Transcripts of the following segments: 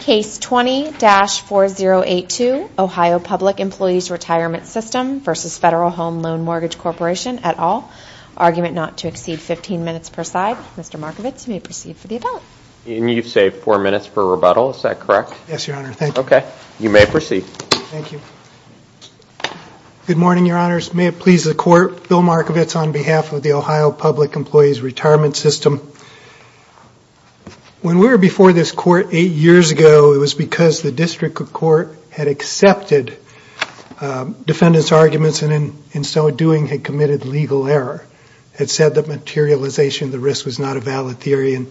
Case 20-4082, Ohio Public Employees Retirement System v. Federal Home Loan Mortgage Corporation, et al. Argument not to exceed 15 minutes per side. Mr. Markovits, you may proceed for the rebuttal. And you've saved 4 minutes for rebuttal, is that correct? Yes, Your Honor, thank you. Okay, you may proceed. Thank you. Good morning, Your Honors. May it please the Court, Bill Markovits on behalf of the Ohio Public Employees Retirement System. When we were before this Court 8 years ago, it was because the District Court had accepted defendants' arguments, and in so doing had committed legal error. It said that materialization of the risk was not a valid theory, and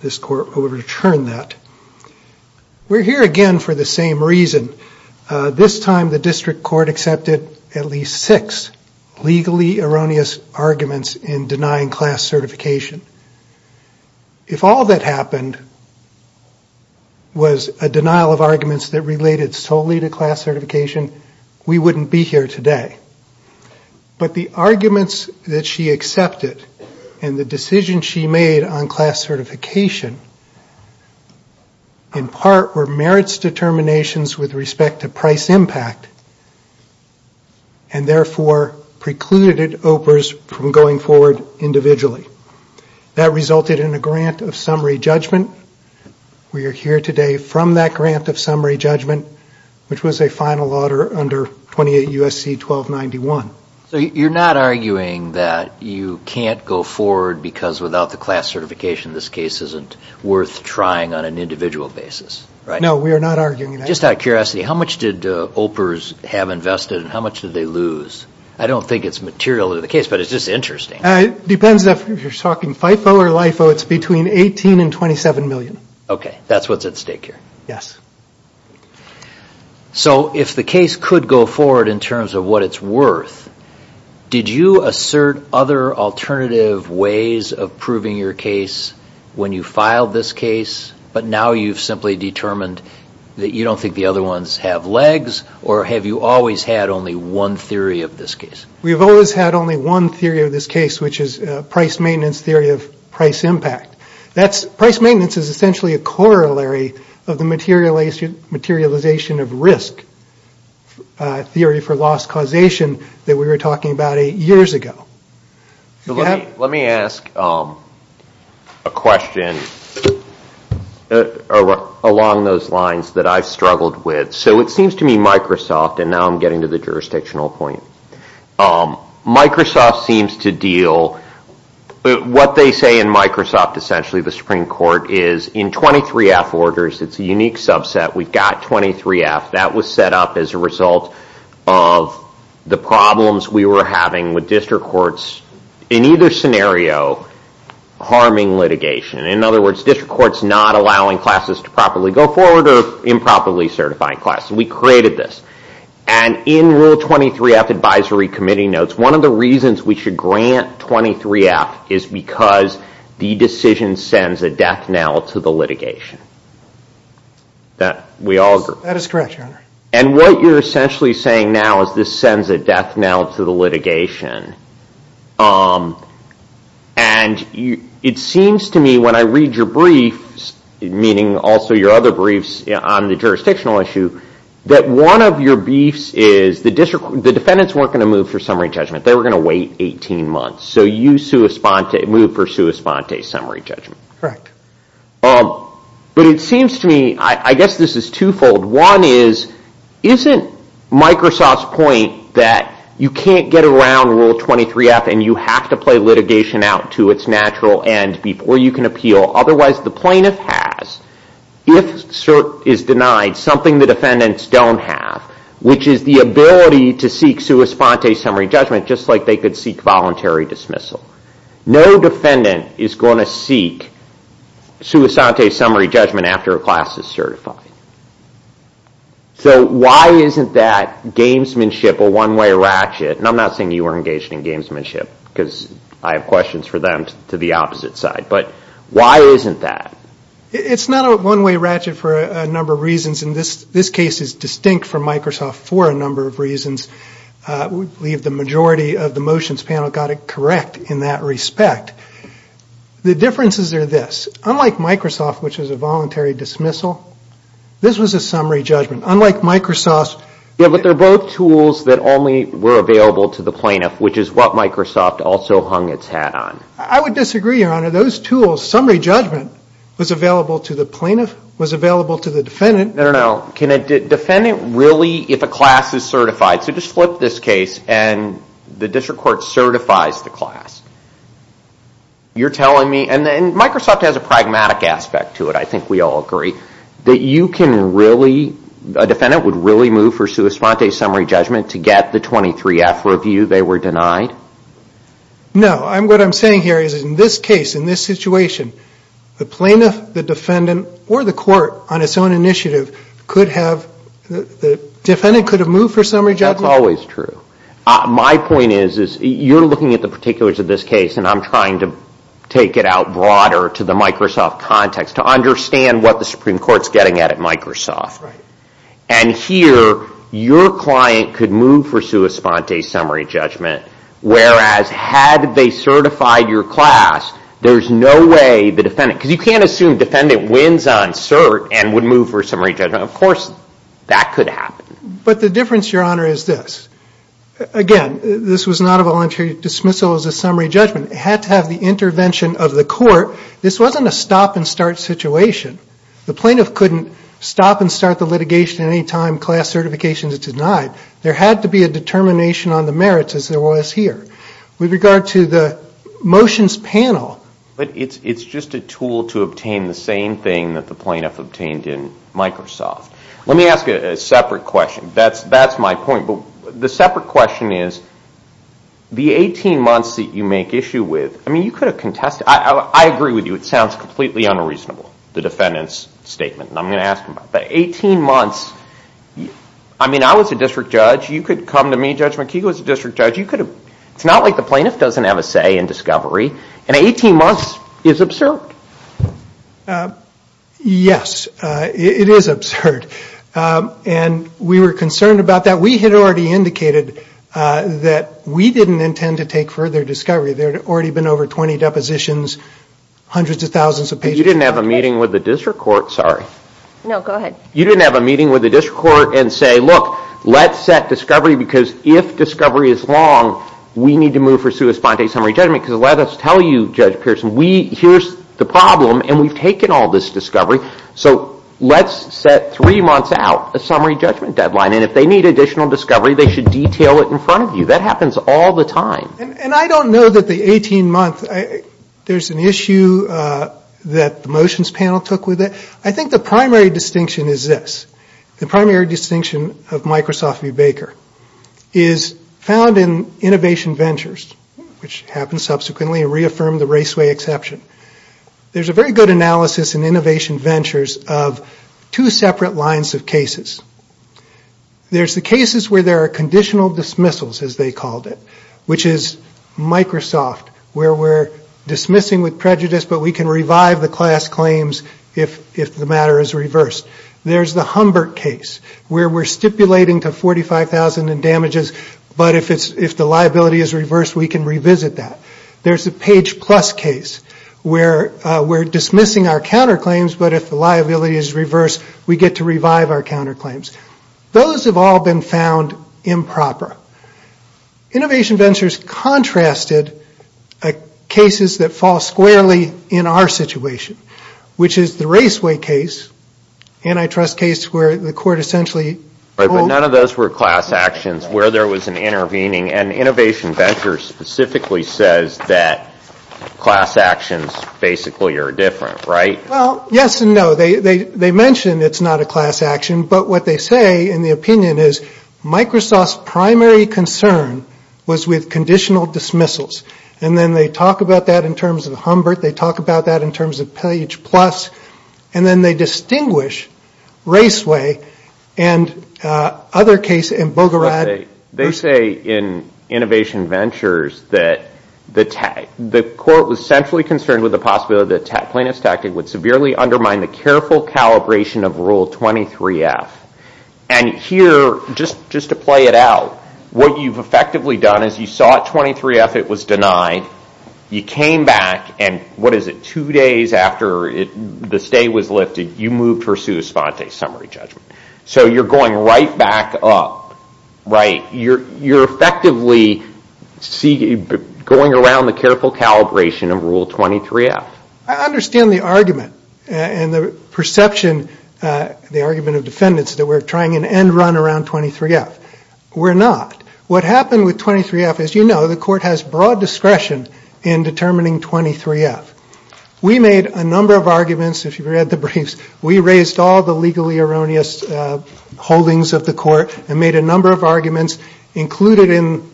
this Court overturned that. We're here again for the same reason. This time the District Court accepted at least 6 legally erroneous arguments in denying class certification. If all that happened was a denial of arguments that related solely to class certification, we wouldn't be here today. But the arguments that she accepted, and the decision she made on class certification, in part were merits determinations with respect to price impact, and therefore precluded OPRs from going forward individually. That resulted in a grant of summary judgment. We are here today from that grant of summary judgment, which was a final order under 28 U.S.C. 1291. So you're not arguing that you can't go forward because without the class certification this case isn't worth trying on an individual basis, right? No, we are not arguing that. Just out of curiosity, how much did OPRs have invested, and how much did they lose? I don't think it's material to the case, but it's just interesting. It depends if you're talking FIFO or LIFO, it's between 18 and 27 million. Okay, that's what's at stake here. Yes. So if the case could go forward in terms of what it's worth, did you assert other alternative ways of proving your case when you filed this case, but now you've simply determined that you don't think the other ones have legs, or have you always had only one theory of this case? We've always had only one theory of this case, which is price maintenance theory of price impact. Price maintenance is essentially a corollary of the materialization of risk theory for loss causation that we were talking about eight years ago. Let me ask a question along those lines that I've struggled with. So it seems to me Microsoft, and now I'm getting to the jurisdictional point. Microsoft seems to deal, what they say in Microsoft essentially, the Supreme Court, is in 23F orders, it's a unique subset. We've got 23F. That was set up as a result of the problems we were having with district courts, in either scenario, harming litigation. In other words, district courts not allowing classes to properly go forward or improperly certifying classes. We created this. And in rule 23F advisory committee notes, one of the reasons we should grant 23F is because the decision sends a death knell to the litigation. We all agree. That is correct, Your Honor. And what you're essentially saying now is this sends a death knell to the litigation. And it seems to me when I read your briefs, meaning also your other briefs on the jurisdictional issue, that one of your briefs is the defendants weren't going to move for summary judgment. They were going to wait 18 months. So you moved for sua sponte, summary judgment. But it seems to me, I guess this is twofold. One is, isn't Microsoft's point that you can't get around rule 23F and you have to play litigation out to its natural end before you can appeal? Otherwise, the plaintiff has, if is denied, something the defendants don't have, which is the ability to seek sua sponte summary judgment just like they could seek voluntary dismissal. No defendant is going to seek sua sponte summary judgment after a class is certified. So why isn't that gamesmanship a one-way ratchet? And I'm not saying you were engaged in gamesmanship because I have questions for them to the opposite side. But why isn't that? It's not a one-way ratchet for a number of reasons. And this case is distinct from Microsoft for a number of reasons. I believe the majority of the motions panel got it correct in that respect. The differences are this. Unlike Microsoft, which is a voluntary dismissal, this was a summary judgment. Unlike Microsoft... Yeah, but they're both tools that only were available to the plaintiff, which is what Microsoft also hung its hat on. I would disagree, Your Honor. Those tools, summary judgment, was available to the plaintiff, was available to the defendant. No, no, no. Can a defendant really, if a class is certified... So just flip this case and the district court certifies the class. You're telling me, and Microsoft has a pragmatic aspect to it, I think we all agree, that you can really, a defendant would really move for sua sponte summary judgment to get the 23-F review they were denied? No. What I'm saying here is in this case, in this situation, the plaintiff, the defendant, or the court on its own initiative could have, the defendant could have moved for summary judgment. That's always true. My point is, you're looking at the particulars of this case, and I'm trying to take it out broader to the Microsoft context to understand what the Supreme Court's getting at at Microsoft. Right. And here, your client could move for sua sponte summary judgment, whereas had they certified your class, there's no way the defendant, because you can't assume defendant wins on cert and would move for summary judgment. Of course, that could happen. But the difference, Your Honor, is this. Again, this was not a voluntary dismissal as a summary judgment. It had to have the intervention of the court. This wasn't a stop-and-start situation. The plaintiff couldn't stop and start the litigation any time class certification is denied. There had to be a determination on the merits, as there was here. With regard to the motions panel. But it's just a tool to obtain the same thing that the plaintiff obtained in Microsoft. Let me ask a separate question. That's my point. But the separate question is, the 18 months that you make issue with, I mean, you could have contested. I agree with you. It sounds completely unreasonable, the defendant's statement. And I'm going to ask him about it. But 18 months, I mean, I was a district judge. You could come to me, Judge McKeego, as a district judge. It's not like the plaintiff doesn't have a say in discovery. And 18 months is absurd. Yes, it is absurd. And we were concerned about that. We had already indicated that we didn't intend to take further discovery. There had already been over 20 depositions, hundreds of thousands of pages. But you didn't have a meeting with the district court, sorry. No, go ahead. You didn't have a meeting with the district court and say, look, let's set discovery because if discovery is long, we need to move for sui sponte, summary judgment, because let us tell you, Judge Pearson, here's the problem and we've taken all this discovery, so let's set three months out a summary judgment deadline. And if they need additional discovery, they should detail it in front of you. That happens all the time. And I don't know that the 18 months, there's an issue that the motions panel took with it. I think the primary distinction is this. The primary distinction of Microsoft v. Baker is found in innovation ventures, which happened subsequently and reaffirmed the raceway exception. There's a very good analysis in innovation ventures of two separate lines of cases. There's the cases where there are conditional dismissals, as they called it, which is Microsoft, where we're dismissing with prejudice, but we can revive the class claims if the matter is reversed. There's the Humbert case, where we're stipulating to 45,000 in damages, but if the liability is reversed, we can revisit that. There's the Page Plus case, where we're dismissing our counterclaims, but if the liability is reversed, we get to revive our counterclaims. Those have all been found improper. Innovation ventures contrasted cases that fall squarely in our situation, which is the raceway case, antitrust case, where the court essentially... But none of those were class actions where there was an intervening, and innovation ventures specifically says that class actions basically are different, right? Well, yes and no. They mention it's not a class action, but what they say in the opinion is, Microsoft's primary concern was with conditional dismissals, and then they talk about that in terms of Humbert. They talk about that in terms of Page Plus, and then they distinguish raceway and other cases in Bogorad. They say in innovation ventures that the court was centrally concerned with the possibility that plaintiff's tactic would severely undermine the careful calibration of Rule 23F, and here, just to play it out, what you've effectively done is you saw at 23F it was denied. You came back, and what is it, two days after the stay was lifted, you moved for sua sponte, summary judgment. So you're going right back up, right? You're effectively going around the careful calibration of Rule 23F. I understand the argument and the perception, the argument of defendants that we're trying an end run around 23F. We're not. What happened with 23F, as you know, the court has broad discretion in determining 23F. We made a number of arguments. If you've read the briefs, we raised all the legally erroneous holdings of the court and made a number of arguments. Included in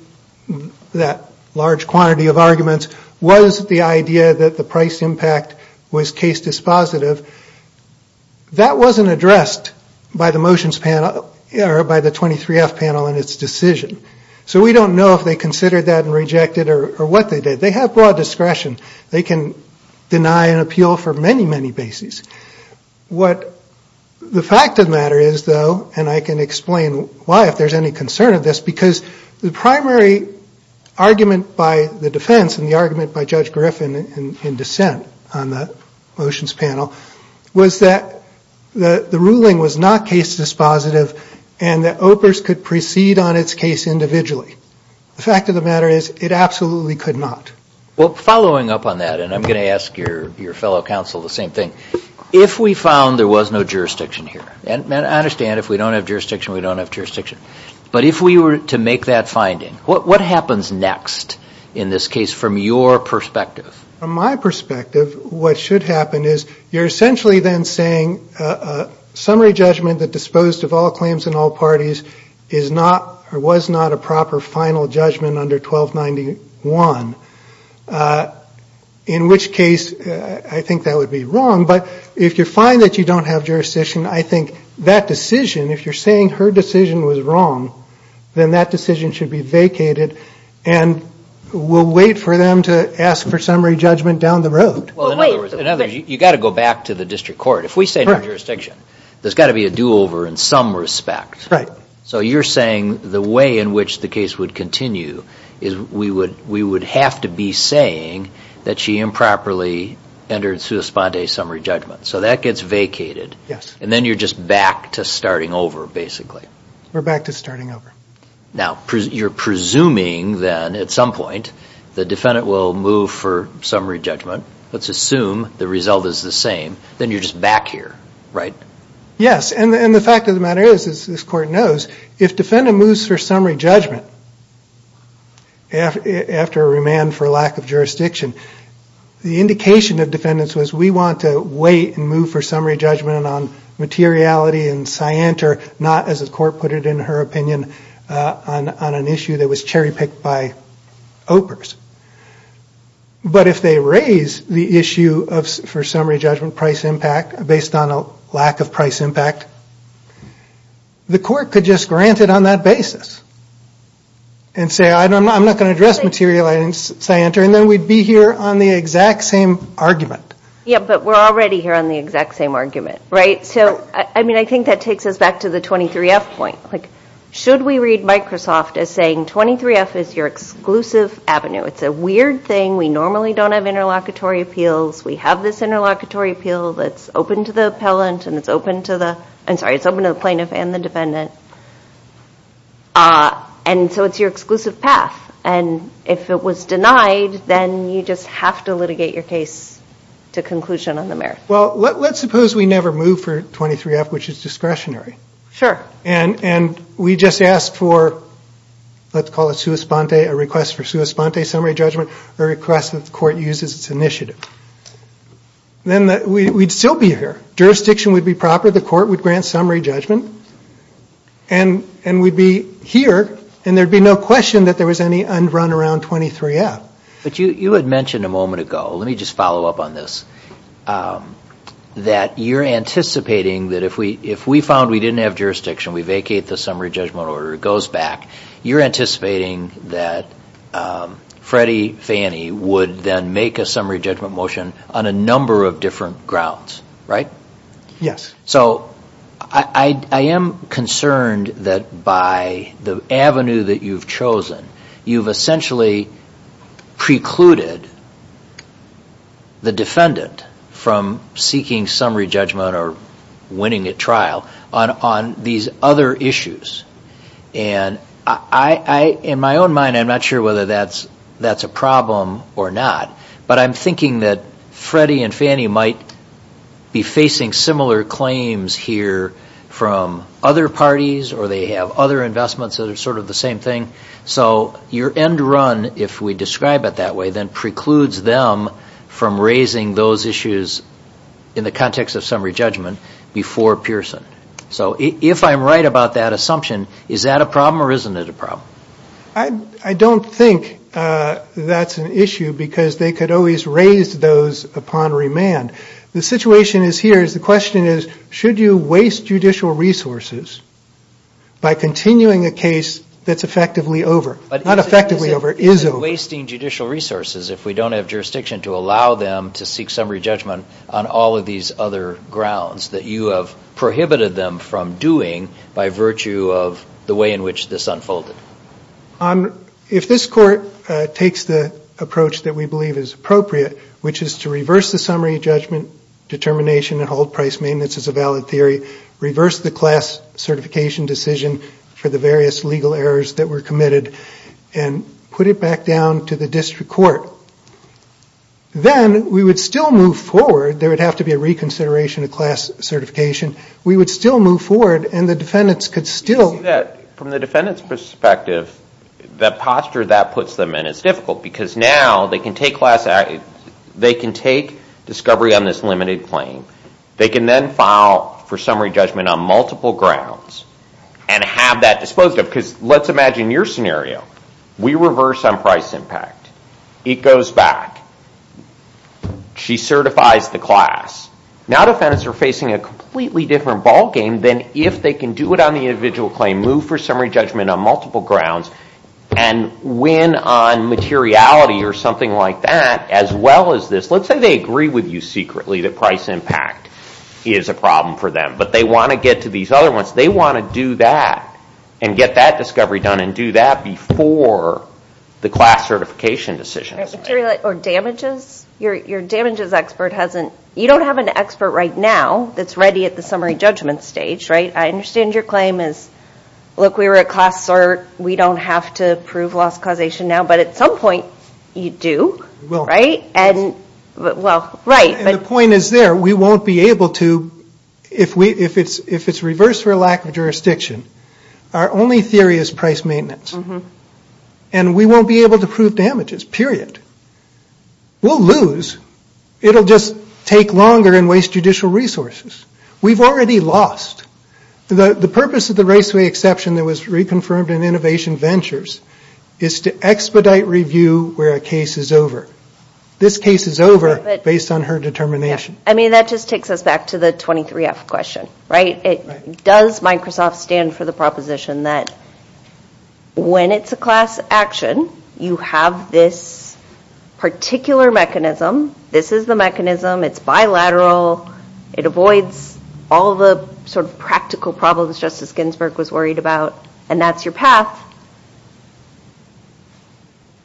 that large quantity of arguments was the idea that the price impact was case dispositive. That wasn't addressed by the motions panel, or by the 23F panel in its decision. So we don't know if they considered that and rejected it or what they did. They have broad discretion. They can deny an appeal for many, many bases. What the fact of the matter is, though, and I can explain why, if there's any concern of this, because the primary argument by the defense and the argument by Judge Griffin in dissent on the motions panel, was that the ruling was not case dispositive and that OPRS could proceed on its case individually. The fact of the matter is, it absolutely could not. Well, following up on that, and I'm going to ask your fellow counsel the same thing, if we found there was no jurisdiction here, and I understand if we don't have jurisdiction, we don't have jurisdiction, but if we were to make that finding, what happens next in this case from your perspective? From my perspective, what should happen is you're essentially then saying a summary judgment that disposed of all claims in all parties was not a proper final judgment under 1291, in which case I think that would be wrong. But if you find that you don't have jurisdiction, I think that decision, if you're saying her decision was wrong, then that decision should be vacated and we'll wait for them to ask for summary judgment down the road. Well, in other words, you've got to go back to the district court. If we say no jurisdiction, there's got to be a do-over in some respect. Right. So you're saying the way in which the case would continue is we would have to be saying that she improperly entered sui sponde summary judgment. So that gets vacated. Yes. And then you're just back to starting over, basically. We're back to starting over. Now, you're presuming then at some point the defendant will move for summary judgment. Let's assume the result is the same. Then you're just back here, right? Yes. And the fact of the matter is, as this court knows, if defendant moves for summary judgment after a remand for lack of jurisdiction, the indication of defendants was we want to wait and move for summary judgment on materiality and scienter, not, as the court put it in her opinion, on an issue that was cherry-picked by OPRS. But if they raise the issue for summary judgment price impact based on a lack of price impact, the court could just grant it on that basis and say, I'm not going to address materiality and scienter, and then we'd be here on the exact same argument. Yes, but we're already here on the exact same argument, right? So, I mean, I think that takes us back to the 23F point. Should we read Microsoft as saying 23F is your exclusive avenue? It's a weird thing. We normally don't have interlocutory appeals. We have this interlocutory appeal that's open to the plaintiff and the defendant. And so it's your exclusive path. And if it was denied, then you just have to litigate your case to conclusion on the merits. Well, let's suppose we never moved for 23F, which is discretionary. Sure. And we just asked for, let's call it sua sponte, a request for sua sponte summary judgment, a request that the court uses its initiative. Then we'd still be here. Jurisdiction would be proper. The court would grant summary judgment. And we'd be here, and there'd be no question that there was any unrun around 23F. But you had mentioned a moment ago, let me just follow up on this, that you're anticipating that if we found we didn't have jurisdiction, we vacate the summary judgment order, it goes back. You're anticipating that Freddie Fannie would then make a summary judgment motion on a number of different grounds, right? Yes. So I am concerned that by the avenue that you've chosen, you've essentially precluded the defendant from seeking summary judgment or winning a trial on these other issues. And in my own mind, I'm not sure whether that's a problem or not, but I'm thinking that Freddie and Fannie might be facing similar claims here from other parties or they have other investments that are sort of the same thing. So your end run, if we describe it that way, then precludes them from raising those issues in the context of summary judgment before Pearson. So if I'm right about that assumption, is that a problem or isn't it a problem? I don't think that's an issue because they could always raise those upon remand. The situation is here is the question is, should you waste judicial resources by continuing a case that's effectively over, not effectively over, is over. But is it wasting judicial resources if we don't have jurisdiction to allow them to seek summary judgment on all of these other grounds that you have prohibited them from doing by virtue of the way in which this unfolded? If this Court takes the approach that we believe is appropriate, which is to reverse the summary judgment determination and hold price maintenance as a valid theory, reverse the class certification decision for the various legal errors that were committed and put it back down to the district court, then we would still move forward. There would have to be a reconsideration of class certification. We would still move forward and the defendants could still... From the defendant's perspective, the posture that puts them in is difficult because now they can take discovery on this limited claim. They can then file for summary judgment on multiple grounds and have that exposed because let's imagine your scenario. We reverse on price impact. It goes back. She certifies the class. Now defendants are facing a completely different ballgame than if they can do it on the individual claim, move for summary judgment on multiple grounds, and win on materiality or something like that as well as this. Let's say they agree with you secretly that price impact is a problem for them, but they want to get to these other ones. They want to do that and get that discovery done and do that before the class certification decision is made. Or damages. Your damages expert hasn't... You don't have an expert right now that's ready at the summary judgment stage. I understand your claim is, look, we were at class sort. We don't have to prove loss causation now, but at some point you do. Right? The point is there. We won't be able to, if it's reversed for a lack of jurisdiction, our only theory is price maintenance, and we won't be able to prove damages, period. We'll lose. It will just take longer and waste judicial resources. We've already lost. The purpose of the Raceway Exception that was reconfirmed in Innovation Ventures is to expedite review where a case is over. This case is over based on her determination. I mean, that just takes us back to the 23F question, right? Does Microsoft stand for the proposition that when it's a class action, you have this particular mechanism. This is the mechanism. It's bilateral. It avoids all the sort of practical problems Justice Ginsburg was worried about, and that's your path.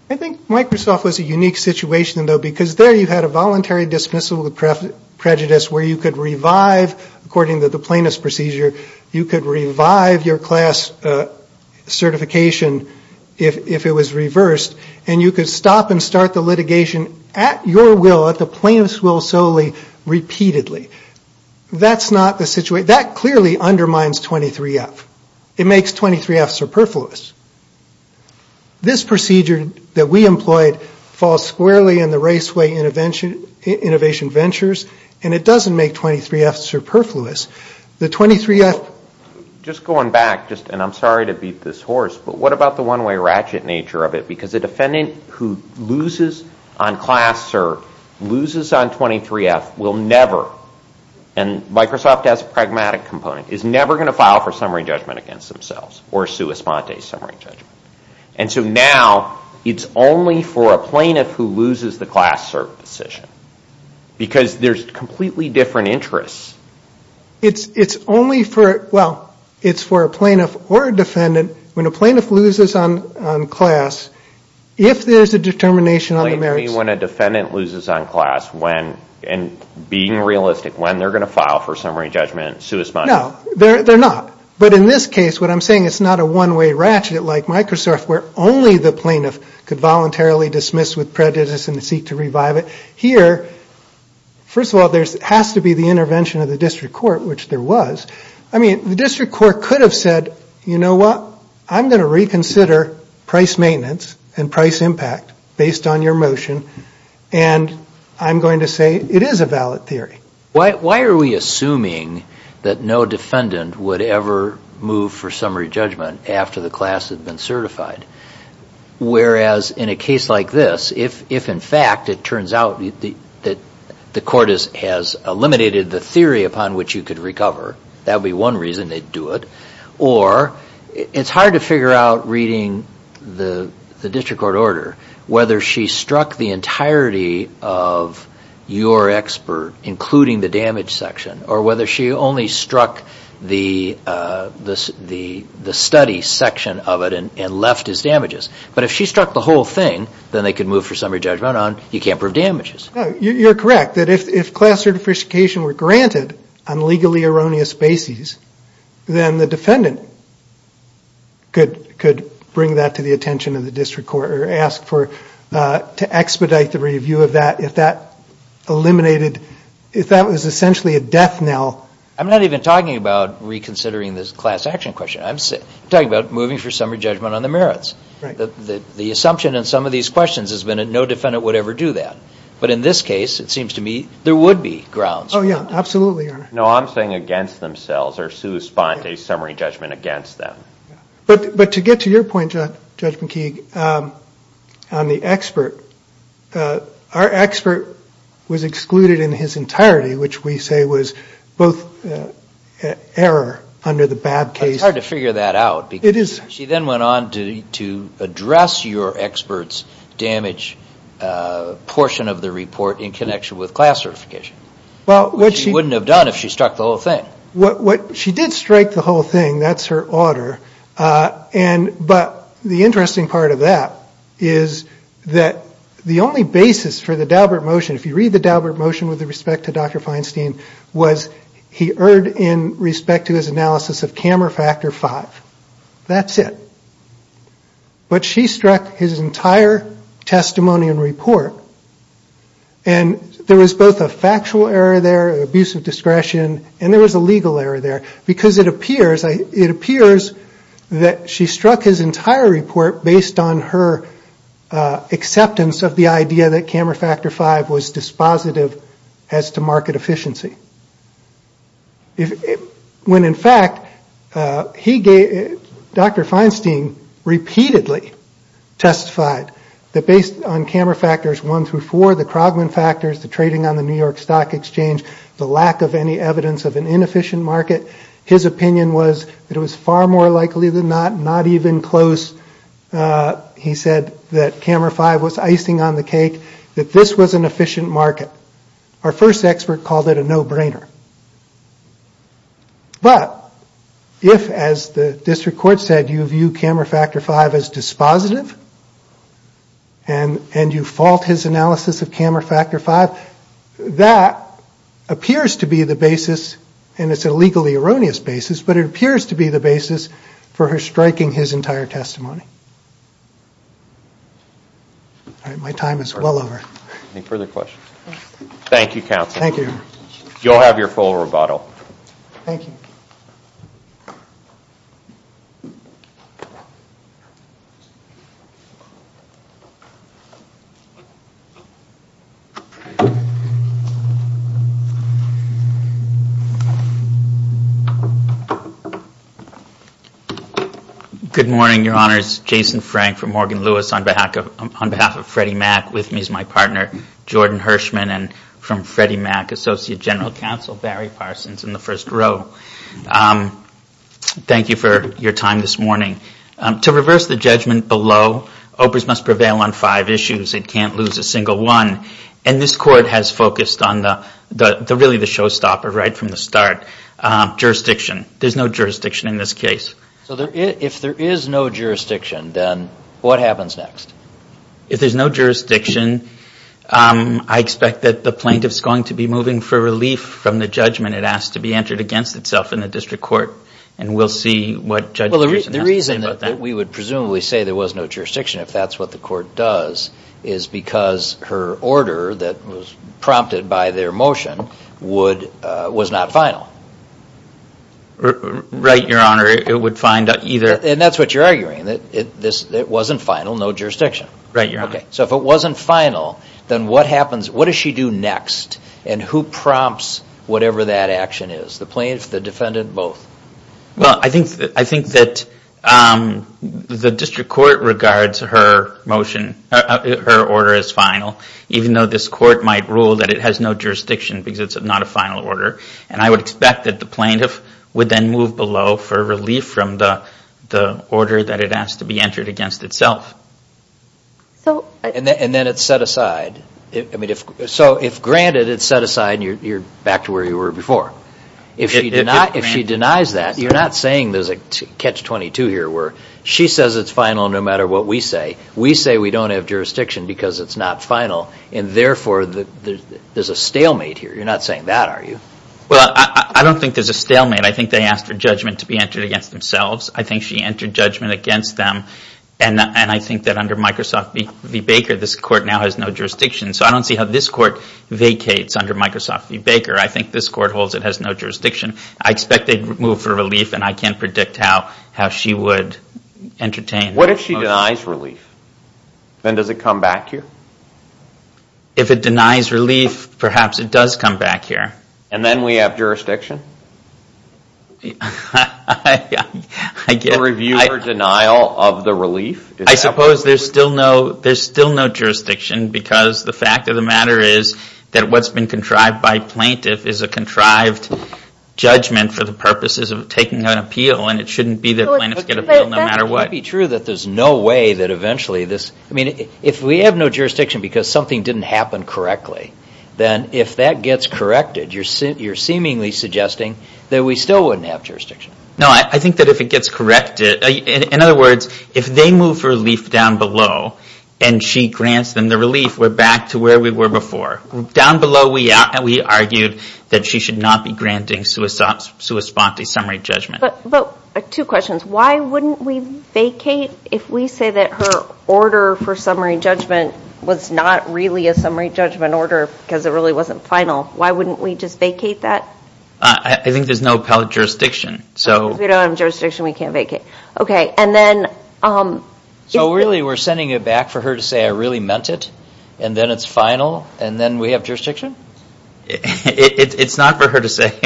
I think Microsoft was a unique situation, though, because there you had a voluntary dismissal of prejudice where you could revive, according to the plaintiff's procedure, you could revive your class certification if it was reversed, and you could stop and start the litigation at your will, at the plaintiff's will solely, repeatedly. That clearly undermines 23F. It makes 23F superfluous. This procedure that we employed falls squarely in the Raceway Innovation Ventures, and it doesn't make 23F superfluous. The 23F... Just going back, and I'm sorry to beat this horse, but what about the one-way ratchet nature of it? Because a defendant who loses on class or loses on 23F will never, and Microsoft has a pragmatic component, is never going to file for summary judgment against themselves or sua sponte, summary judgment. And so now it's only for a plaintiff who loses the class cert decision because there's completely different interests. It's only for... Well, it's for a plaintiff or a defendant. When a plaintiff loses on class, if there's a determination on the merits... Plainly when a defendant loses on class, and being realistic, when they're going to file for summary judgment, sua sponte. No, they're not. But in this case, what I'm saying, it's not a one-way ratchet like Microsoft where only the plaintiff could voluntarily dismiss with prejudice and seek to revive it. Here, first of all, there has to be the intervention of the district court, which there was. I mean, the district court could have said, you know what, I'm going to reconsider price maintenance and price impact based on your motion, and I'm going to say it is a valid theory. Why are we assuming that no defendant would ever move for summary judgment after the class had been certified? Whereas in a case like this, if in fact it turns out that the court has eliminated the theory upon which you could recover, that would be one reason they'd do it. Or it's hard to figure out, reading the district court order, whether she struck the entirety of your expert, including the damage section, or whether she only struck the study section of it and left as damages. But if she struck the whole thing, then they could move for summary judgment on, you can't prove damages. You're correct, that if class certification were granted on legally erroneous bases, then the defendant could bring that to the attention of the district court or ask to expedite the review of that if that was essentially a death knell. I'm not even talking about reconsidering this class action question. I'm talking about moving for summary judgment on the merits. The assumption in some of these questions has been that no defendant would ever do that. But in this case, it seems to me there would be grounds for it. Oh, yeah, absolutely, Your Honor. No, I'm saying against themselves, or to respond to a summary judgment against them. But to get to your point, Judge McKeague, on the expert, our expert was excluded in his entirety, which we say was both error under the Babb case. It's hard to figure that out. It is. She then went on to address your expert's damage portion of the report in connection with class certification, which she wouldn't have done if she struck the whole thing. She did strike the whole thing. That's her order. But the interesting part of that is that the only basis for the Daubert motion, if you read the Daubert motion with respect to Dr. Feinstein, was he erred in respect to his analysis of camera factor five. That's it. But she struck his entire testimony and report, and there was both a factual error there, an abuse of discretion, and there was a legal error there. Because it appears that she struck his entire report based on her acceptance of the idea that camera factor five was dispositive as to market efficiency. When, in fact, Dr. Feinstein repeatedly testified that based on camera factors one through four, the Krogman factors, the trading on the New York Stock Exchange, the lack of any evidence of an inefficient market, his opinion was that it was far more likely than not, not even close. He said that camera five was icing on the cake, that this was an efficient market. Our first expert called it a no-brainer. But if, as the district court said, you view camera factor five as dispositive and you fault his analysis of camera factor five, that appears to be the basis, and it's a legally erroneous basis, but it appears to be the basis for her striking his entire testimony. All right, my time is well over. Any further questions? Thank you, counsel. Thank you. You'll have your full rebuttal. Thank you. Good morning, Your Honors. Jason Frank from Morgan Lewis on behalf of Freddie Mac. With me is my partner, Jordan Hirschman, and from Freddie Mac, Associate General Counsel, Barry Parsons in the first row. Thank you for your time this morning. To reverse the judgment below, OPRS must prevail on five issues. It can't lose a single one. And this court has focused on really the showstopper right from the start, jurisdiction. There's no jurisdiction in this case. So if there is no jurisdiction, then what happens next? If there's no jurisdiction, I expect that the plaintiff is going to be moving for relief from the judgment it asked to be entered against itself in the district court, and we'll see what Judge Gerson has to say about that. Well, the reason that we would presumably say there was no jurisdiction, if that's what the court does, is because her order that was prompted by their motion was not final. Right, Your Honor, it would find either. And that's what you're arguing, that it wasn't final, no jurisdiction. Right, Your Honor. So if it wasn't final, then what happens? What does she do next? And who prompts whatever that action is, the plaintiff, the defendant, both? Well, I think that the district court regards her order as final, even though this court might rule that it has no jurisdiction because it's not a final order. And I would expect that the plaintiff would then move below for relief from the order that it asked to be entered against itself. And then it's set aside. So if granted, it's set aside and you're back to where you were before. If she denies that, you're not saying there's a catch-22 here where she says it's final no matter what we say. We say we don't have jurisdiction because it's not final, and therefore there's a stalemate here. You're not saying that, are you? Well, I don't think there's a stalemate. I think they asked for judgment to be entered against themselves. I think she entered judgment against them. And I think that under Microsoft v. Baker, this court now has no jurisdiction. So I don't see how this court vacates under Microsoft v. Baker. I think this court holds it has no jurisdiction. I expect they'd move for relief, and I can't predict how she would entertain. What if she denies relief? Then does it come back here? If it denies relief, perhaps it does come back here. And then we have jurisdiction? A review or denial of the relief? I suppose there's still no jurisdiction because the fact of the matter is that what's been contrived by plaintiff is a contrived judgment for the purposes of taking an appeal, and it shouldn't be that plaintiffs get an appeal no matter what. But that can't be true that there's no way that eventually this I mean, if we have no jurisdiction because something didn't happen correctly, then if that gets corrected, you're seemingly suggesting that we still wouldn't have jurisdiction. No, I think that if it gets corrected, in other words, if they move for relief down below and she grants them the relief, we're back to where we were before. Down below, we argued that she should not be granting sua sponte summary judgment. But two questions. Why wouldn't we vacate if we say that her order for summary judgment was not really a summary judgment order because it really wasn't final? Why wouldn't we just vacate that? I think there's no appellate jurisdiction. If we don't have jurisdiction, we can't vacate. Okay, and then... So really, we're sending it back for her to say, I really meant it, and then it's final, and then we have jurisdiction? It's not for her to say,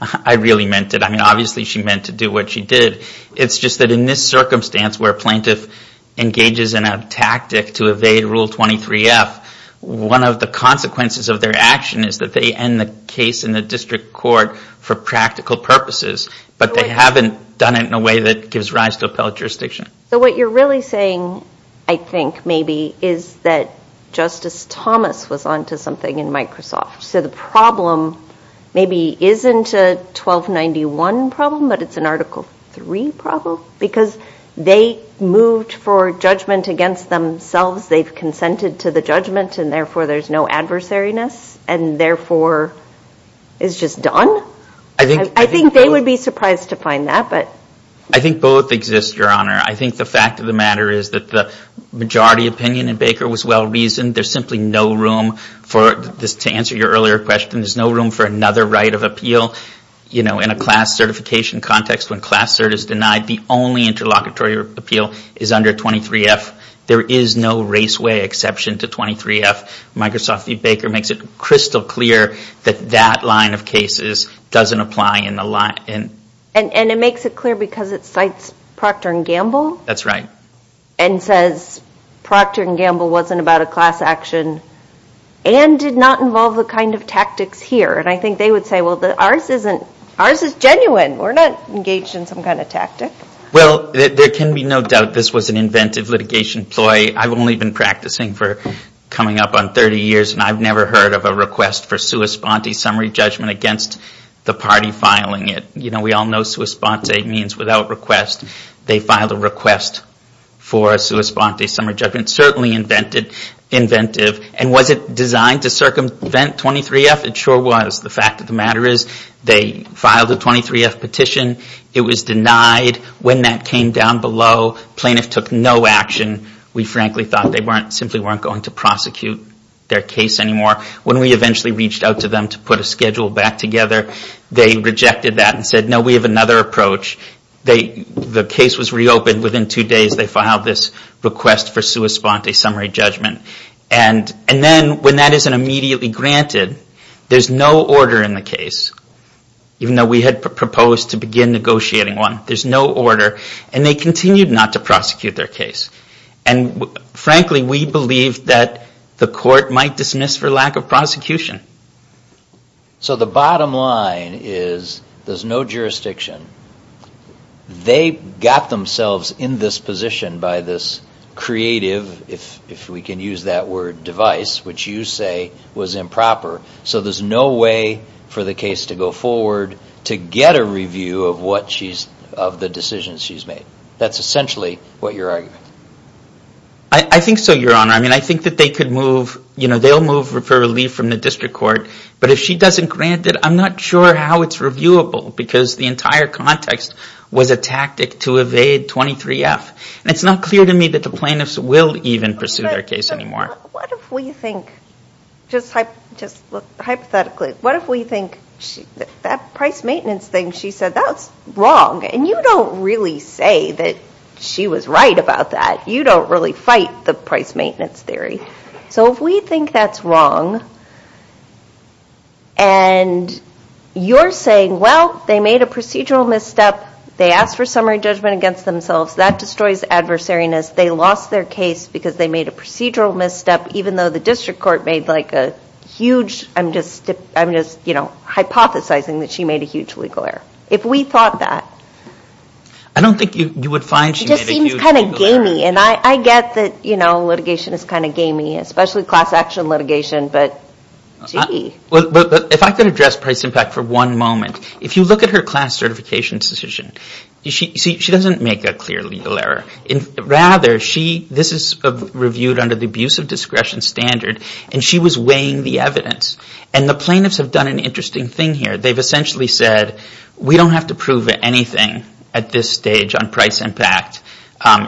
I really meant it. I mean, obviously she meant to do what she did. It's just that in this circumstance where a plaintiff engages in a tactic to evade Rule 23F, one of the consequences of their action is that they end the case in the district court for practical purposes, but they haven't done it in a way that gives rise to appellate jurisdiction. So what you're really saying, I think, maybe, is that Justice Thomas was onto something in Microsoft. So the problem maybe isn't a 1291 problem, but it's an Article III problem because they moved for judgment against themselves. They've consented to the judgment, and therefore there's no adversariness, and therefore it's just done? I think they would be surprised to find that, but... I think both exist, Your Honor. I think the fact of the matter is that the majority opinion in Baker was well-reasoned. There's simply no room for, to answer your earlier question, there's no room for another right of appeal in a class certification context when class cert is denied, the only interlocutory appeal is under 23F. There is no raceway exception to 23F. Microsoft v. Baker makes it crystal clear that that line of cases doesn't apply in the line. And it makes it clear because it cites Procter & Gamble? That's right. And says Procter & Gamble wasn't about a class action and did not involve the kind of tactics here. And I think they would say, well, ours is genuine. We're not engaged in some kind of tactic. Well, there can be no doubt this was an inventive litigation ploy. I've only been practicing for coming up on 30 years, and I've never heard of a request for sua sponte summary judgment against the party filing it. We all know sua sponte means without request. They filed a request for a sua sponte summary judgment. Certainly inventive. And was it designed to circumvent 23F? It sure was. The fact of the matter is they filed a 23F petition. It was denied. When that came down below, plaintiffs took no action. We frankly thought they simply weren't going to prosecute their case anymore. When we eventually reached out to them to put a schedule back together, they rejected that and said, no, we have another approach. The case was reopened. Within two days, they filed this request for sua sponte summary judgment. And then when that isn't immediately granted, there's no order in the case, even though we had proposed to begin negotiating one. There's no order. And they continued not to prosecute their case. And frankly, we believed that the court might dismiss for lack of prosecution. So the bottom line is there's no jurisdiction. They got themselves in this position by this creative, if we can use that word, device, which you say was improper. So there's no way for the case to go forward to get a review of the decisions she's made. That's essentially what you're arguing. I think so, Your Honor. I mean, I think that they could move. They'll move for relief from the district court. But if she doesn't grant it, I'm not sure how it's reviewable because the entire context was a tactic to evade 23F. And it's not clear to me that the plaintiffs will even pursue their case anymore. But what if we think, just hypothetically, what if we think that price maintenance thing she said, that's wrong. And you don't really say that she was right about that. You don't really fight the price maintenance theory. So if we think that's wrong and you're saying, well, they made a procedural misstep. They asked for summary judgment against themselves. That destroys adversariness. They lost their case because they made a procedural misstep, even though the district court made a huge, I'm just hypothesizing that she made a huge legal error. If we thought that. I don't think you would find she made a huge legal error. It just seems kind of gamey. And I get that litigation is kind of gamey, especially class action litigation. But, gee. But if I could address price impact for one moment. If you look at her class certification decision, she doesn't make a clear legal error. Rather, she, this is reviewed under the abuse of discretion standard, and she was weighing the evidence. And the plaintiffs have done an interesting thing here. They've essentially said, we don't have to prove anything at this stage on price impact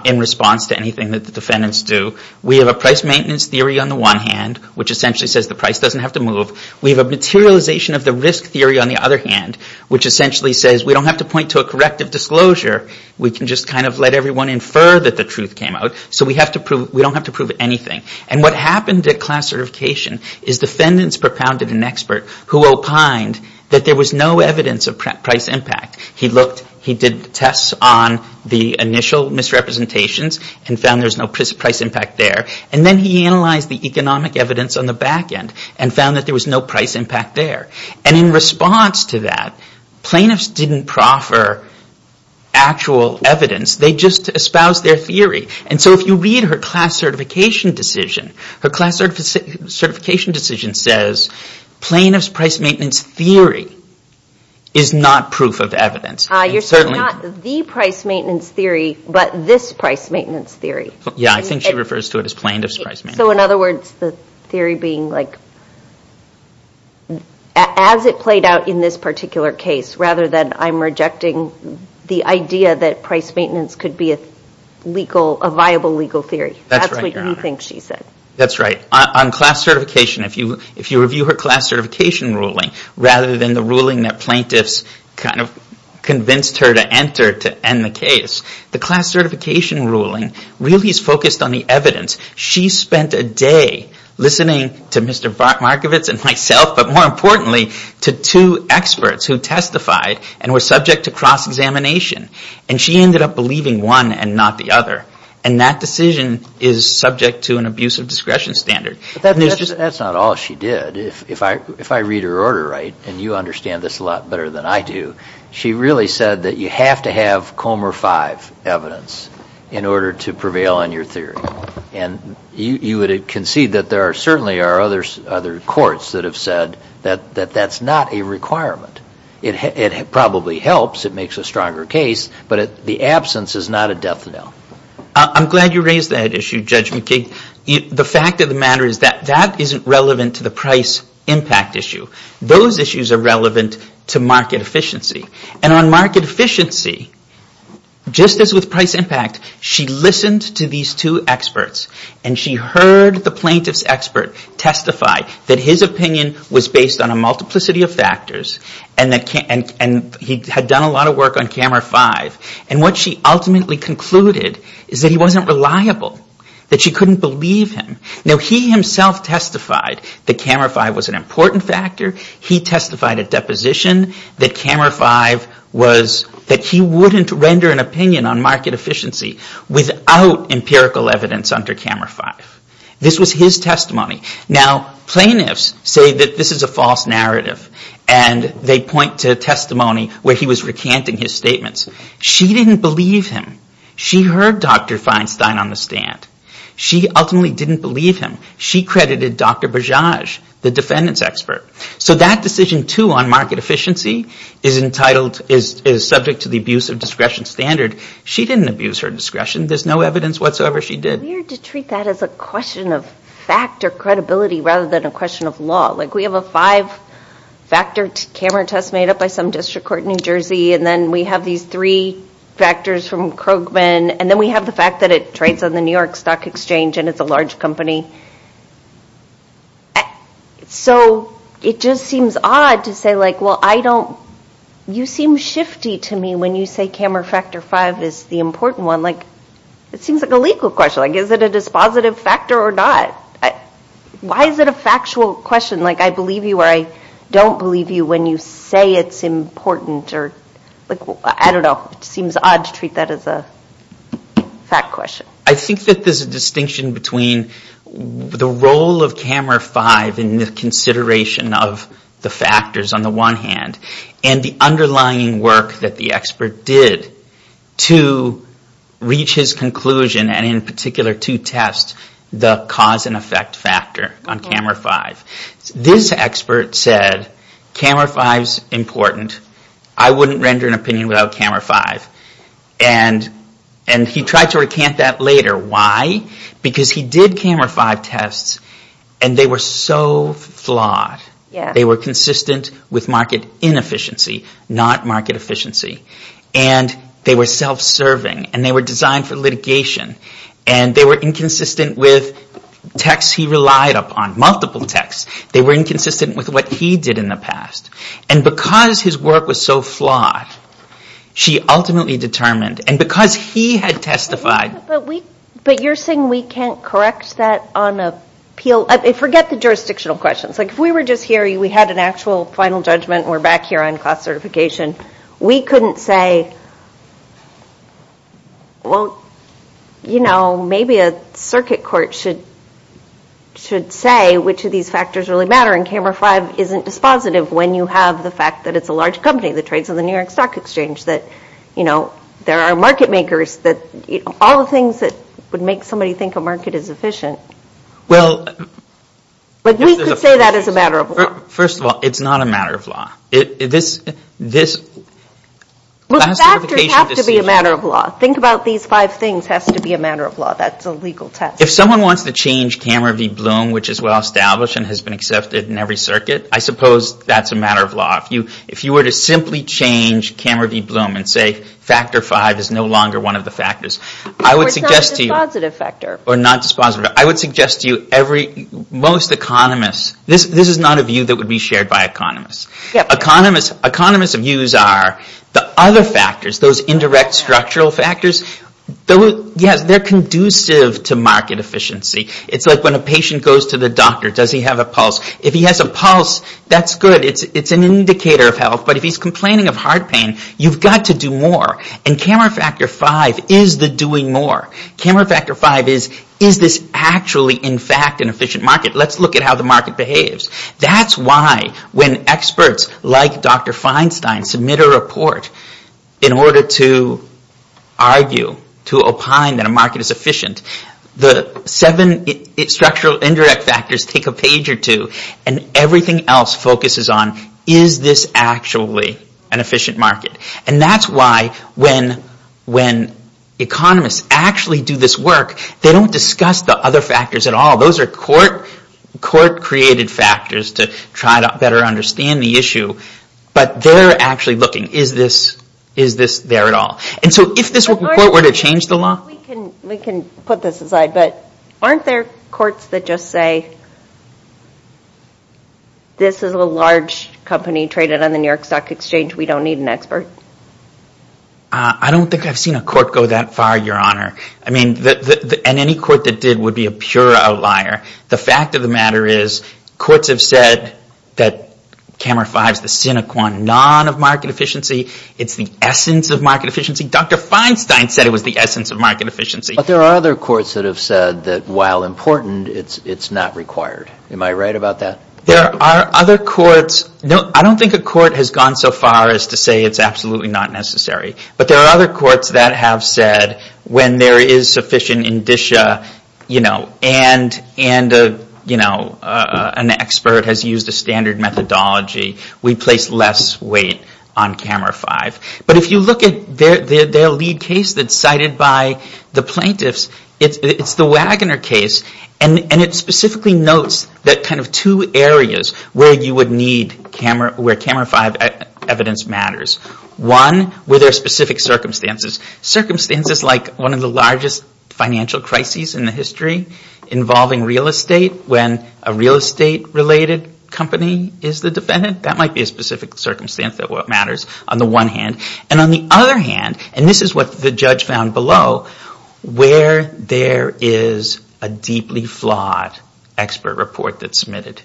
in response to anything that the defendants do. We have a price maintenance theory on the one hand, which essentially says the price doesn't have to move. We have a materialization of the risk theory on the other hand, which essentially says we don't have to point to a corrective disclosure. We can just kind of let everyone infer that the truth came out. So we don't have to prove anything. And what happened at class certification is defendants propounded an expert who opined that there was no evidence of price impact. He looked, he did tests on the initial misrepresentations and found there's no price impact there. And then he analyzed the economic evidence on the back end and found that there was no price impact there. And in response to that, plaintiffs didn't proffer actual evidence. They just espoused their theory. And so if you read her class certification decision, her class certification decision says plaintiff's price maintenance theory is not proof of evidence. You're saying not the price maintenance theory, but this price maintenance theory. Yeah, I think she refers to it as plaintiff's price maintenance theory. So in other words, the theory being like, as it played out in this particular case, rather than I'm rejecting the idea that price maintenance could be a viable legal theory. That's what you think she said. That's right. On class certification, if you review her class certification ruling, rather than the ruling that plaintiffs kind of convinced her to enter to end the case, the class certification ruling really is focused on the evidence. She spent a day listening to Mr. Markovitz and myself, but more importantly, to two experts who testified and were subject to cross-examination. And she ended up believing one and not the other. And that decision is subject to an abuse of discretion standard. That's not all she did. If I read her order right, and you understand this a lot better than I do, she really said that you have to have Comer V evidence in order to prevail on your theory. And you would concede that there certainly are other courts that have said that that's not a requirement. It probably helps. It makes a stronger case. But the absence is not a death knell. I'm glad you raised that issue, Judge McKee. The fact of the matter is that that isn't relevant to the price impact issue. Those issues are relevant to market efficiency. And on market efficiency, just as with price impact, she listened to these two experts and she heard the plaintiff's expert testify that his opinion was based on a multiplicity of factors and that he had done a lot of work on Comer V. And what she ultimately concluded is that he wasn't reliable, that she couldn't believe him. Now, he himself testified that Comer V was an important factor. He testified at deposition that Comer V was, that he wouldn't render an opinion on market efficiency without empirical evidence under Comer V. This was his testimony. Now, plaintiffs say that this is a false narrative and they point to testimony where he was recanting his statements. She didn't believe him. She heard Dr. Feinstein on the stand. She ultimately didn't believe him. She credited Dr. Bajaj, the defendant's expert. So that decision, too, on market efficiency is entitled, is subject to the abuse of discretion standard. She didn't abuse her discretion. There's no evidence whatsoever she did. It's weird to treat that as a question of fact or credibility rather than a question of law. Like we have a five-factor camera test made up by some district court in New Jersey and then we have these three factors from Krogman and then we have the fact that it trades on the New York Stock Exchange and it's a large company. So it just seems odd to say like, well, I don't, you seem shifty to me when you say camera factor five is the important one. Like, it seems like a legal question. Like, is it a dispositive factor or not? Why is it a factual question? Like, I believe you or I don't believe you when you say it's important or, like, I don't know. It seems odd to treat that as a fact question. I think that there's a distinction between the role of camera five in the consideration of the factors on the one hand and the underlying work that the expert did to reach his conclusion and in particular to test the cause and effect factor on camera five. This expert said camera five is important. I wouldn't render an opinion without camera five. And he tried to recant that later. Why? Because he did camera five tests and they were so flawed. They were consistent with market inefficiency, not market efficiency. And they were self-serving and they were designed for litigation and they were inconsistent with texts he relied upon, multiple texts. They were inconsistent with what he did in the past. And because his work was so flawed, she ultimately determined, and because he had testified. But you're saying we can't correct that on appeal? Forget the jurisdictional questions. Like, if we were just here, we had an actual final judgment, and we're back here on cost certification, we couldn't say, well, you know, maybe a circuit court should say which of these factors really matter and camera five isn't dispositive when you have the fact that it's a large company that trades in the New York Stock Exchange, that, you know, there are market makers, that all the things that would make somebody think a market is efficient. But we could say that is a matter of law. First of all, it's not a matter of law. Well, factors have to be a matter of law. Think about these five things have to be a matter of law. That's a legal test. If someone wants to change camera v. Bloom, which is well established and has been accepted in every circuit, I suppose that's a matter of law. If you were to simply change camera v. Bloom and say factor five is no longer one of the factors, I would suggest to you... Or it's not a dispositive factor. Or not dispositive. I would suggest to you most economists, this is not a view that would be shared by economists. Economists' views are the other factors, those indirect structural factors, yes, they're conducive to market efficiency. It's like when a patient goes to the doctor, does he have a pulse? If he has a pulse, that's good. It's an indicator of health. But if he's complaining of heart pain, you've got to do more. And camera factor five is the doing more. Camera factor five is, is this actually in fact an efficient market? Let's look at how the market behaves. That's why when experts like Dr. Feinstein submit a report in order to argue, to opine that a market is efficient, the seven structural indirect factors take a page or two and everything else focuses on, is this actually an efficient market? And that's why when economists actually do this work, they don't discuss the other factors at all. Those are court-created factors to try to better understand the issue. But they're actually looking, is this there at all? And so if this report were to change the law... We can put this aside, but aren't there courts that just say, this is a large company traded on the New York Stock Exchange, we don't need an expert? I don't think I've seen a court go that far, Your Honor. I mean, and any court that did would be a pure outlier. The fact of the matter is courts have said that camera five is the sine qua non of market efficiency. It's the essence of market efficiency. Dr. Feinstein said it was the essence of market efficiency. But there are other courts that have said that while important, it's not required. Am I right about that? There are other courts. I don't think a court has gone so far as to say it's absolutely not necessary. But there are other courts that have said when there is sufficient indicia and an expert has used a standard methodology, we place less weight on camera five. But if you look at their lead case that's cited by the plaintiffs, it's the Wagoner case, and it specifically notes that kind of two areas where camera five evidence matters. One, were there specific circumstances? Circumstances like one of the largest financial crises in the history involving real estate when a real estate-related company is the defendant. That might be a specific circumstance that matters. On the one hand. And on the other hand, and this is what the judge found below, where there is a deeply flawed expert report that's submitted.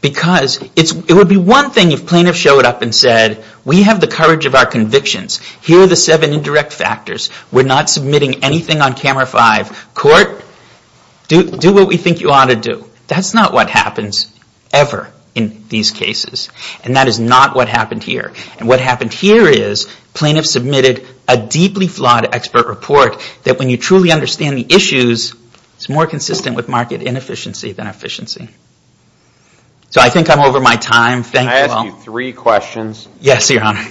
Because it would be one thing if plaintiffs showed up and said, we have the courage of our convictions. Here are the seven indirect factors. We're not submitting anything on camera five. Court, do what we think you ought to do. That's not what happens ever in these cases. And that is not what happened here. And what happened here is, plaintiffs submitted a deeply flawed expert report that when you truly understand the issues, it's more consistent with market inefficiency than efficiency. So I think I'm over my time. Thank you all. Can I ask you three questions? Yes, Your Honor.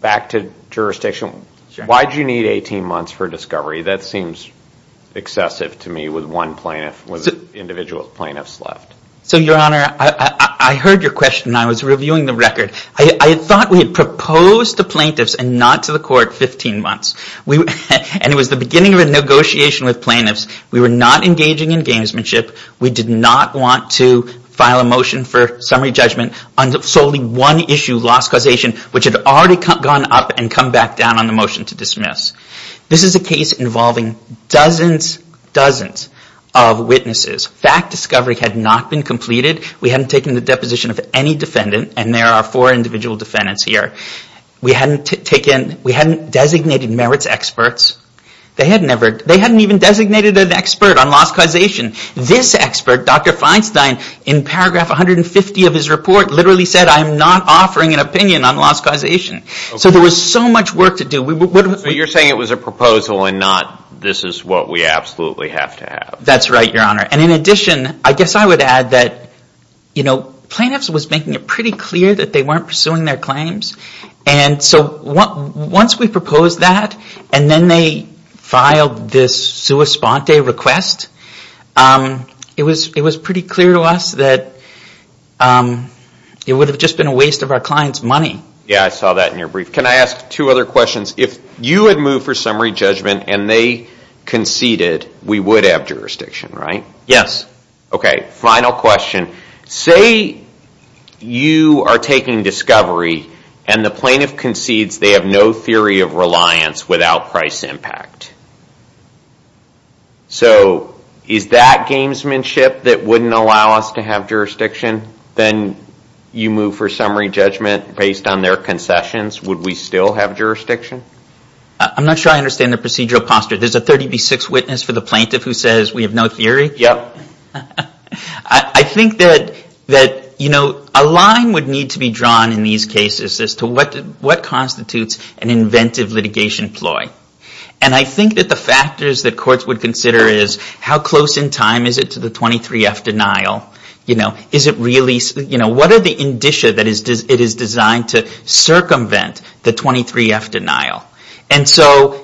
Back to jurisdiction. Why did you need 18 months for discovery? That seems excessive to me with one plaintiff, with individual plaintiffs left. So, Your Honor, I heard your question. I was reviewing the record. I thought we had proposed to plaintiffs and not to the court 15 months. And it was the beginning of a negotiation with plaintiffs. We were not engaging in gamesmanship. We did not want to file a motion for summary judgment on solely one issue, loss causation, which had already gone up and come back down on the motion to dismiss. This is a case involving dozens, dozens of witnesses. Fact discovery had not been completed. We hadn't taken the deposition of any defendant. And there are four individual defendants here. We hadn't designated merits experts. They hadn't even designated an expert on loss causation. This expert, Dr. Feinstein, in paragraph 150 of his report, literally said, I am not offering an opinion on loss causation. So there was so much work to do. So you're saying it was a proposal and not, this is what we absolutely have to have. That's right, Your Honor. And in addition, I guess I would add that, you know, it was pretty clear that they weren't pursuing their claims. And so once we proposed that, and then they filed this sua sponte request, it was pretty clear to us that it would have just been a waste of our client's money. Yeah, I saw that in your brief. Can I ask two other questions? If you had moved for summary judgment and they conceded, we would have jurisdiction, right? Yes. Okay, final question. Say you are taking discovery and the plaintiff concedes they have no theory of reliance without price impact. So is that gamesmanship that wouldn't allow us to have jurisdiction? Then you move for summary judgment based on their concessions. Would we still have jurisdiction? I'm not sure I understand the procedural posture. There's a 30 v. 6 witness for the plaintiff who says we have no theory? Yep. I think that, you know, a line would need to be drawn in these cases as to what constitutes an inventive litigation ploy. And I think that the factors that courts would consider is how close in time is it to the 23F denial? You know, is it really, you know, what are the indicia that it is designed to circumvent the 23F denial? And so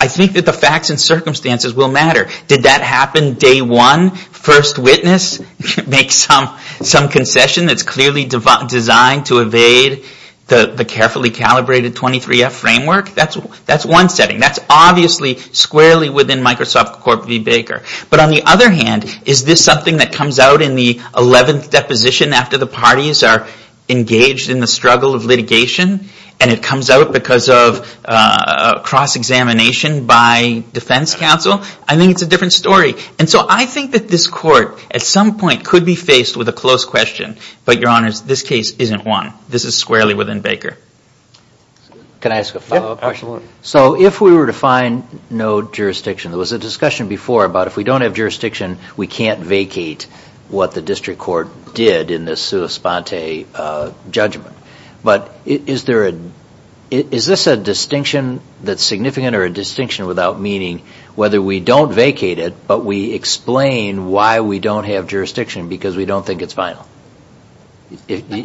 I think that the facts and circumstances will matter. Did that happen day one? First witness makes some concession that's clearly designed to evade the carefully calibrated 23F framework? That's one setting. That's obviously squarely within Microsoft Corp v. Baker. But on the other hand, is this something that comes out in the 11th deposition after the parties are engaged in the struggle of litigation and it comes out because of cross-examination by defense counsel? I think it's a different story. And so I think that this court, at some point, could be faced with a close question. But, Your Honors, this case isn't one. This is squarely within Baker. Can I ask a follow-up question? Yep, absolutely. So if we were to find no jurisdiction, there was a discussion before about if we don't have jurisdiction, we can't vacate what the district court did in this sua sponte judgment. But is this a distinction that's significant or a distinction without meaning whether we don't vacate it but we explain why we don't have jurisdiction because we don't think it's final? Do you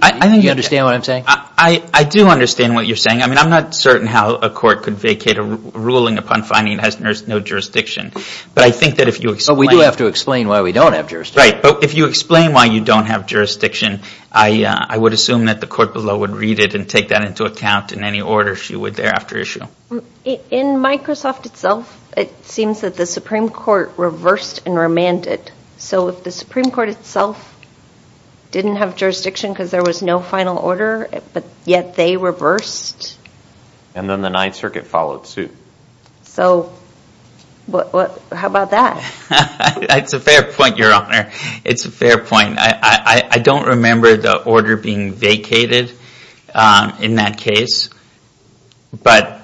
understand what I'm saying? I do understand what you're saying. I mean, I'm not certain how a court could vacate a ruling upon finding it has no jurisdiction. But I think that if you explain it. But we do have to explain why we don't have jurisdiction. Right, but if you explain why you don't have jurisdiction, I would assume that the court below would read it and take that into account in any order if you would thereafter issue. In Microsoft itself, it seems that the Supreme Court reversed and remanded. So if the Supreme Court itself didn't have jurisdiction because there was no final order, but yet they reversed. And then the Ninth Circuit followed suit. So how about that? That's a fair point, Your Honor. It's a fair point. I don't remember the order being vacated in that case. But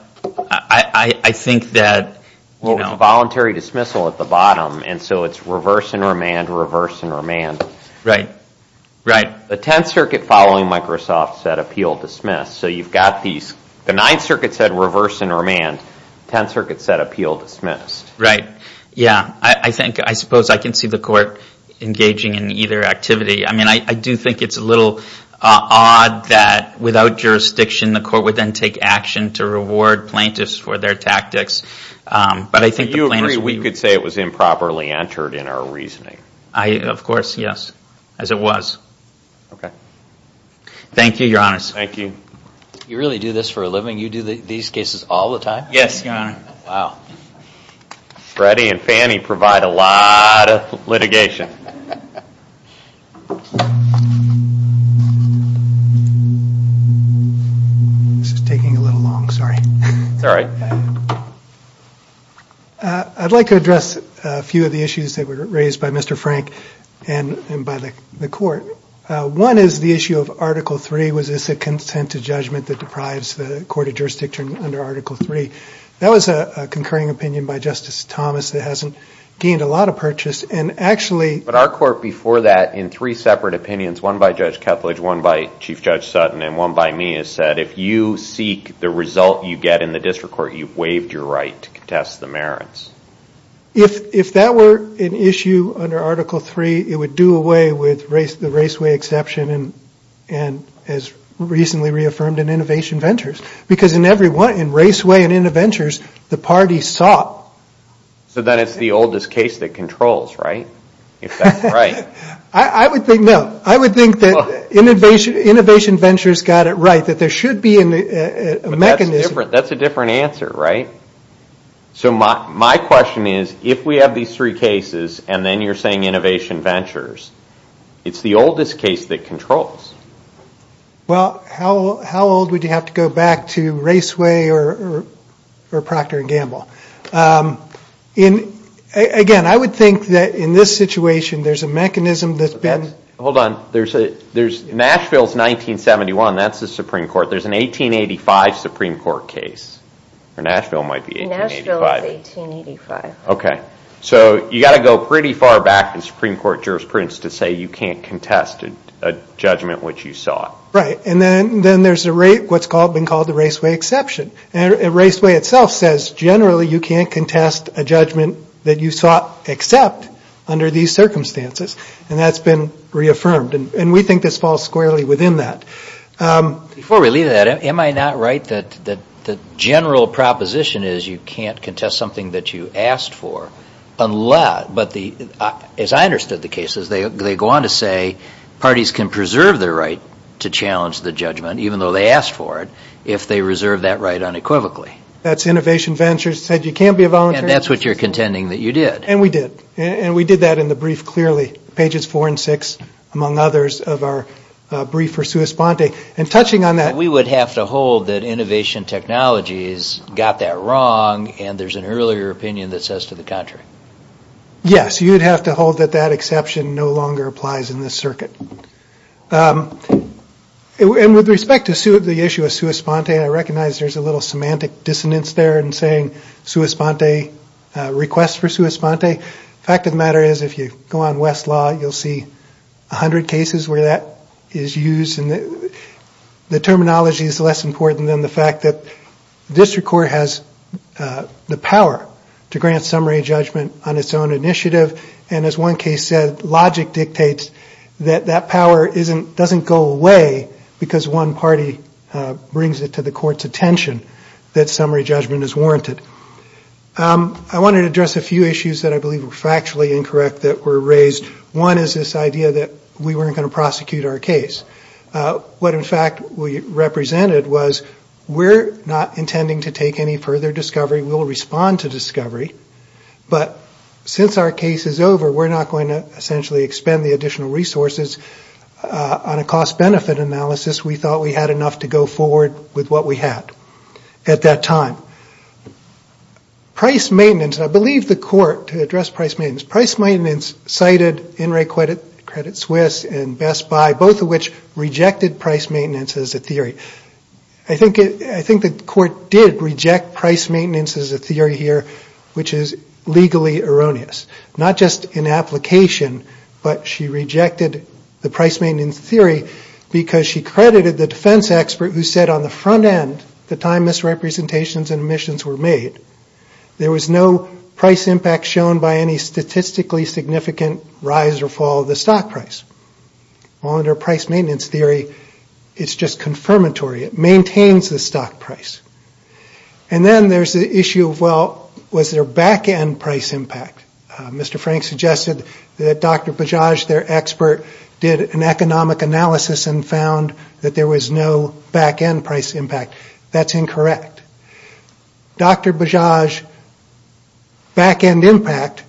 I think that. Well, it's a voluntary dismissal at the bottom. And so it's reverse and remand, reverse and remand. Right, right. The Tenth Circuit following Microsoft said appeal dismissed. So you've got these. The Ninth Circuit said reverse and remand. Tenth Circuit said appeal dismissed. Right, yeah. I suppose I can see the court engaging in either activity. I mean, I do think it's a little odd that without jurisdiction, the court would then take action to reward plaintiffs for their tactics. Do you agree we could say it was improperly entered in our reasoning? Of course, yes, as it was. Okay. Thank you, Your Honors. Thank you. You really do this for a living? You do these cases all the time? Yes, Your Honor. Wow. Freddie and Fannie provide a lot of litigation. This is taking a little long, sorry. It's all right. I'd like to address a few of the issues that were raised by Mr. Frank and by the court. One is the issue of Article III. Was this a consent to judgment that deprives the court of jurisdiction under Article III? That was a concurring opinion by Justice Thomas that hasn't gained a lot of purchase. But our court before that, in three separate opinions, one by Judge Kethledge, one by Chief Judge Sutton, and one by me, has said, if you seek the result you get in the district court, you've waived your right to contest the merits. If that were an issue under Article III, it would do away with the Raceway exception and as recently reaffirmed in Innovation Ventures. Because in Raceway and Innovation Ventures, the party sought. So then it's the oldest case that controls, right? If that's right. No, I would think that Innovation Ventures got it right, that there should be a mechanism. That's a different answer, right? So my question is, if we have these three cases and then you're saying Innovation Ventures, it's the oldest case that controls. Well, how old would you have to go back to Raceway or Procter & Gamble? Again, I would think that in this situation, there's a mechanism that's been... Hold on. Nashville's 1971, that's the Supreme Court. There's an 1885 Supreme Court case. Nashville might be 1885. Nashville's 1885. So you've got to go pretty far back in Supreme Court jurisprudence to say you can't contest a judgment which you sought. Right, and then there's what's been called the Raceway exception. Raceway itself says generally you can't contest a judgment that you sought except under these circumstances and that's been reaffirmed and we think this falls squarely within that. Before we leave that, am I not right that the general proposition is you can't contest something that you asked for unless... But as I understood the cases, they go on to say parties can preserve their right to challenge the judgment even though they asked for it if they reserve that right unequivocally. That's Innovation Ventures said you can't be a volunteer. And that's what you're contending that you did. And we did. And we did that in the brief clearly. Pages four and six, among others, of our brief for sua sponte. And touching on that... So we would have to hold that innovation technologies got that wrong and there's an earlier opinion that says to the contrary. Yes, you would have to hold that that exception no longer applies in this circuit. And with respect to the issue of sua sponte, I recognize there's a little semantic dissonance there in saying sua sponte, request for sua sponte. The fact of the matter is if you go on Westlaw, you'll see a hundred cases where that is used and the terminology is less important than the fact that district court has the power to grant summary judgment on its own initiative. And as one case said, logic dictates that that power doesn't go away because one party brings it to the court's attention that summary judgment is warranted. I wanted to address a few issues that I believe were factually incorrect that were raised. One is this idea that we weren't going to prosecute our case. What, in fact, we represented was we're not intending to take any further discovery. We'll respond to discovery. But since our case is over, we're not going to essentially expend the additional resources. On a cost-benefit analysis, we thought we had enough to go forward with what we had at that time. Price maintenance, and I believe the court, to address price maintenance, cited In Re Credit Swiss and Best Buy, both of which rejected price maintenance as a theory. I think the court did reject price maintenance as a theory here, which is legally erroneous, not just in application, but she rejected the price maintenance theory because she credited the defense expert who said on the front end, the time misrepresentations and omissions were made, there was no price impact shown by any statistically significant rise or fall of the stock price. Well, under price maintenance theory, it's just confirmatory. It maintains the stock price. And then there's the issue of, well, was there back-end price impact? Mr. Frank suggested that Dr. Bajaj, their expert, did an economic analysis and found that there was no back-end price impact. That's incorrect. Dr. Bajaj's back-end impact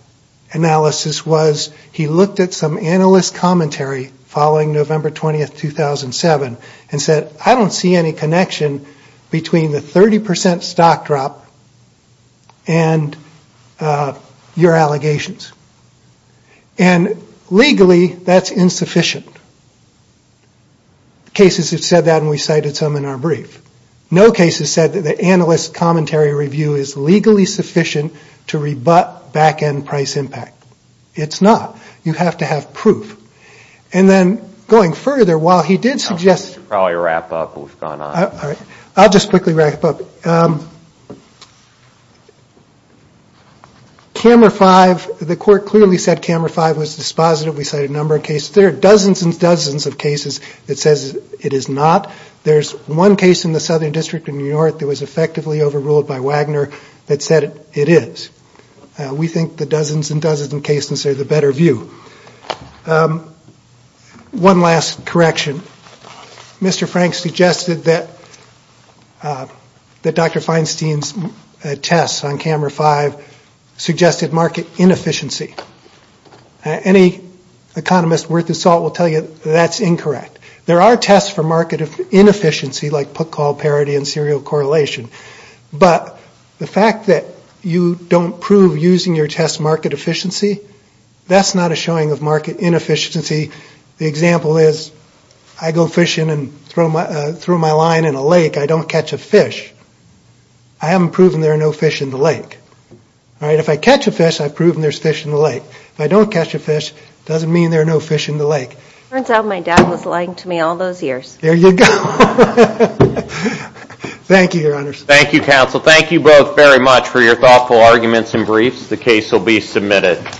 analysis was, he looked at some analyst commentary following November 20, 2007, and said, I don't see any connection between the 30% stock drop and your allegations. And legally, that's insufficient. Cases have said that, and we cited some in our brief. No cases said that the analyst commentary review is legally sufficient to rebut back-end price impact. It's not. You have to have proof. And then, going further, while he did suggest... I should probably wrap up. We've gone on. All right. I'll just quickly wrap up. Camera 5, the court clearly said Camera 5 was dispositive. We cited a number of cases. There are dozens and dozens of cases that says it is not. There's one case in the Southern District in New York that was effectively overruled by Wagner that said it is. We think the dozens and dozens of cases are the better view. One last correction. Mr. Frank suggested that Dr. Feinstein's tests on Camera 5 suggested market inefficiency. Any economist worth his salt will tell you that's incorrect. There are tests for market inefficiency like put-call parity and serial correlation. But the fact that you don't prove using your test market efficiency, that's not a showing of market inefficiency. The example is I go fishing and throw my line in a lake. I don't catch a fish. I haven't proven there are no fish in the lake. All right. If I catch a fish, I've proven there's fish in the lake. If I don't catch a fish, it doesn't mean there are no fish in the lake. It turns out my dad was lying to me all those years. There you go. Thank you, Your Honors. Thank you, counsel. Thank you both very much for your thoughtful arguments and briefs. The case will be submitted.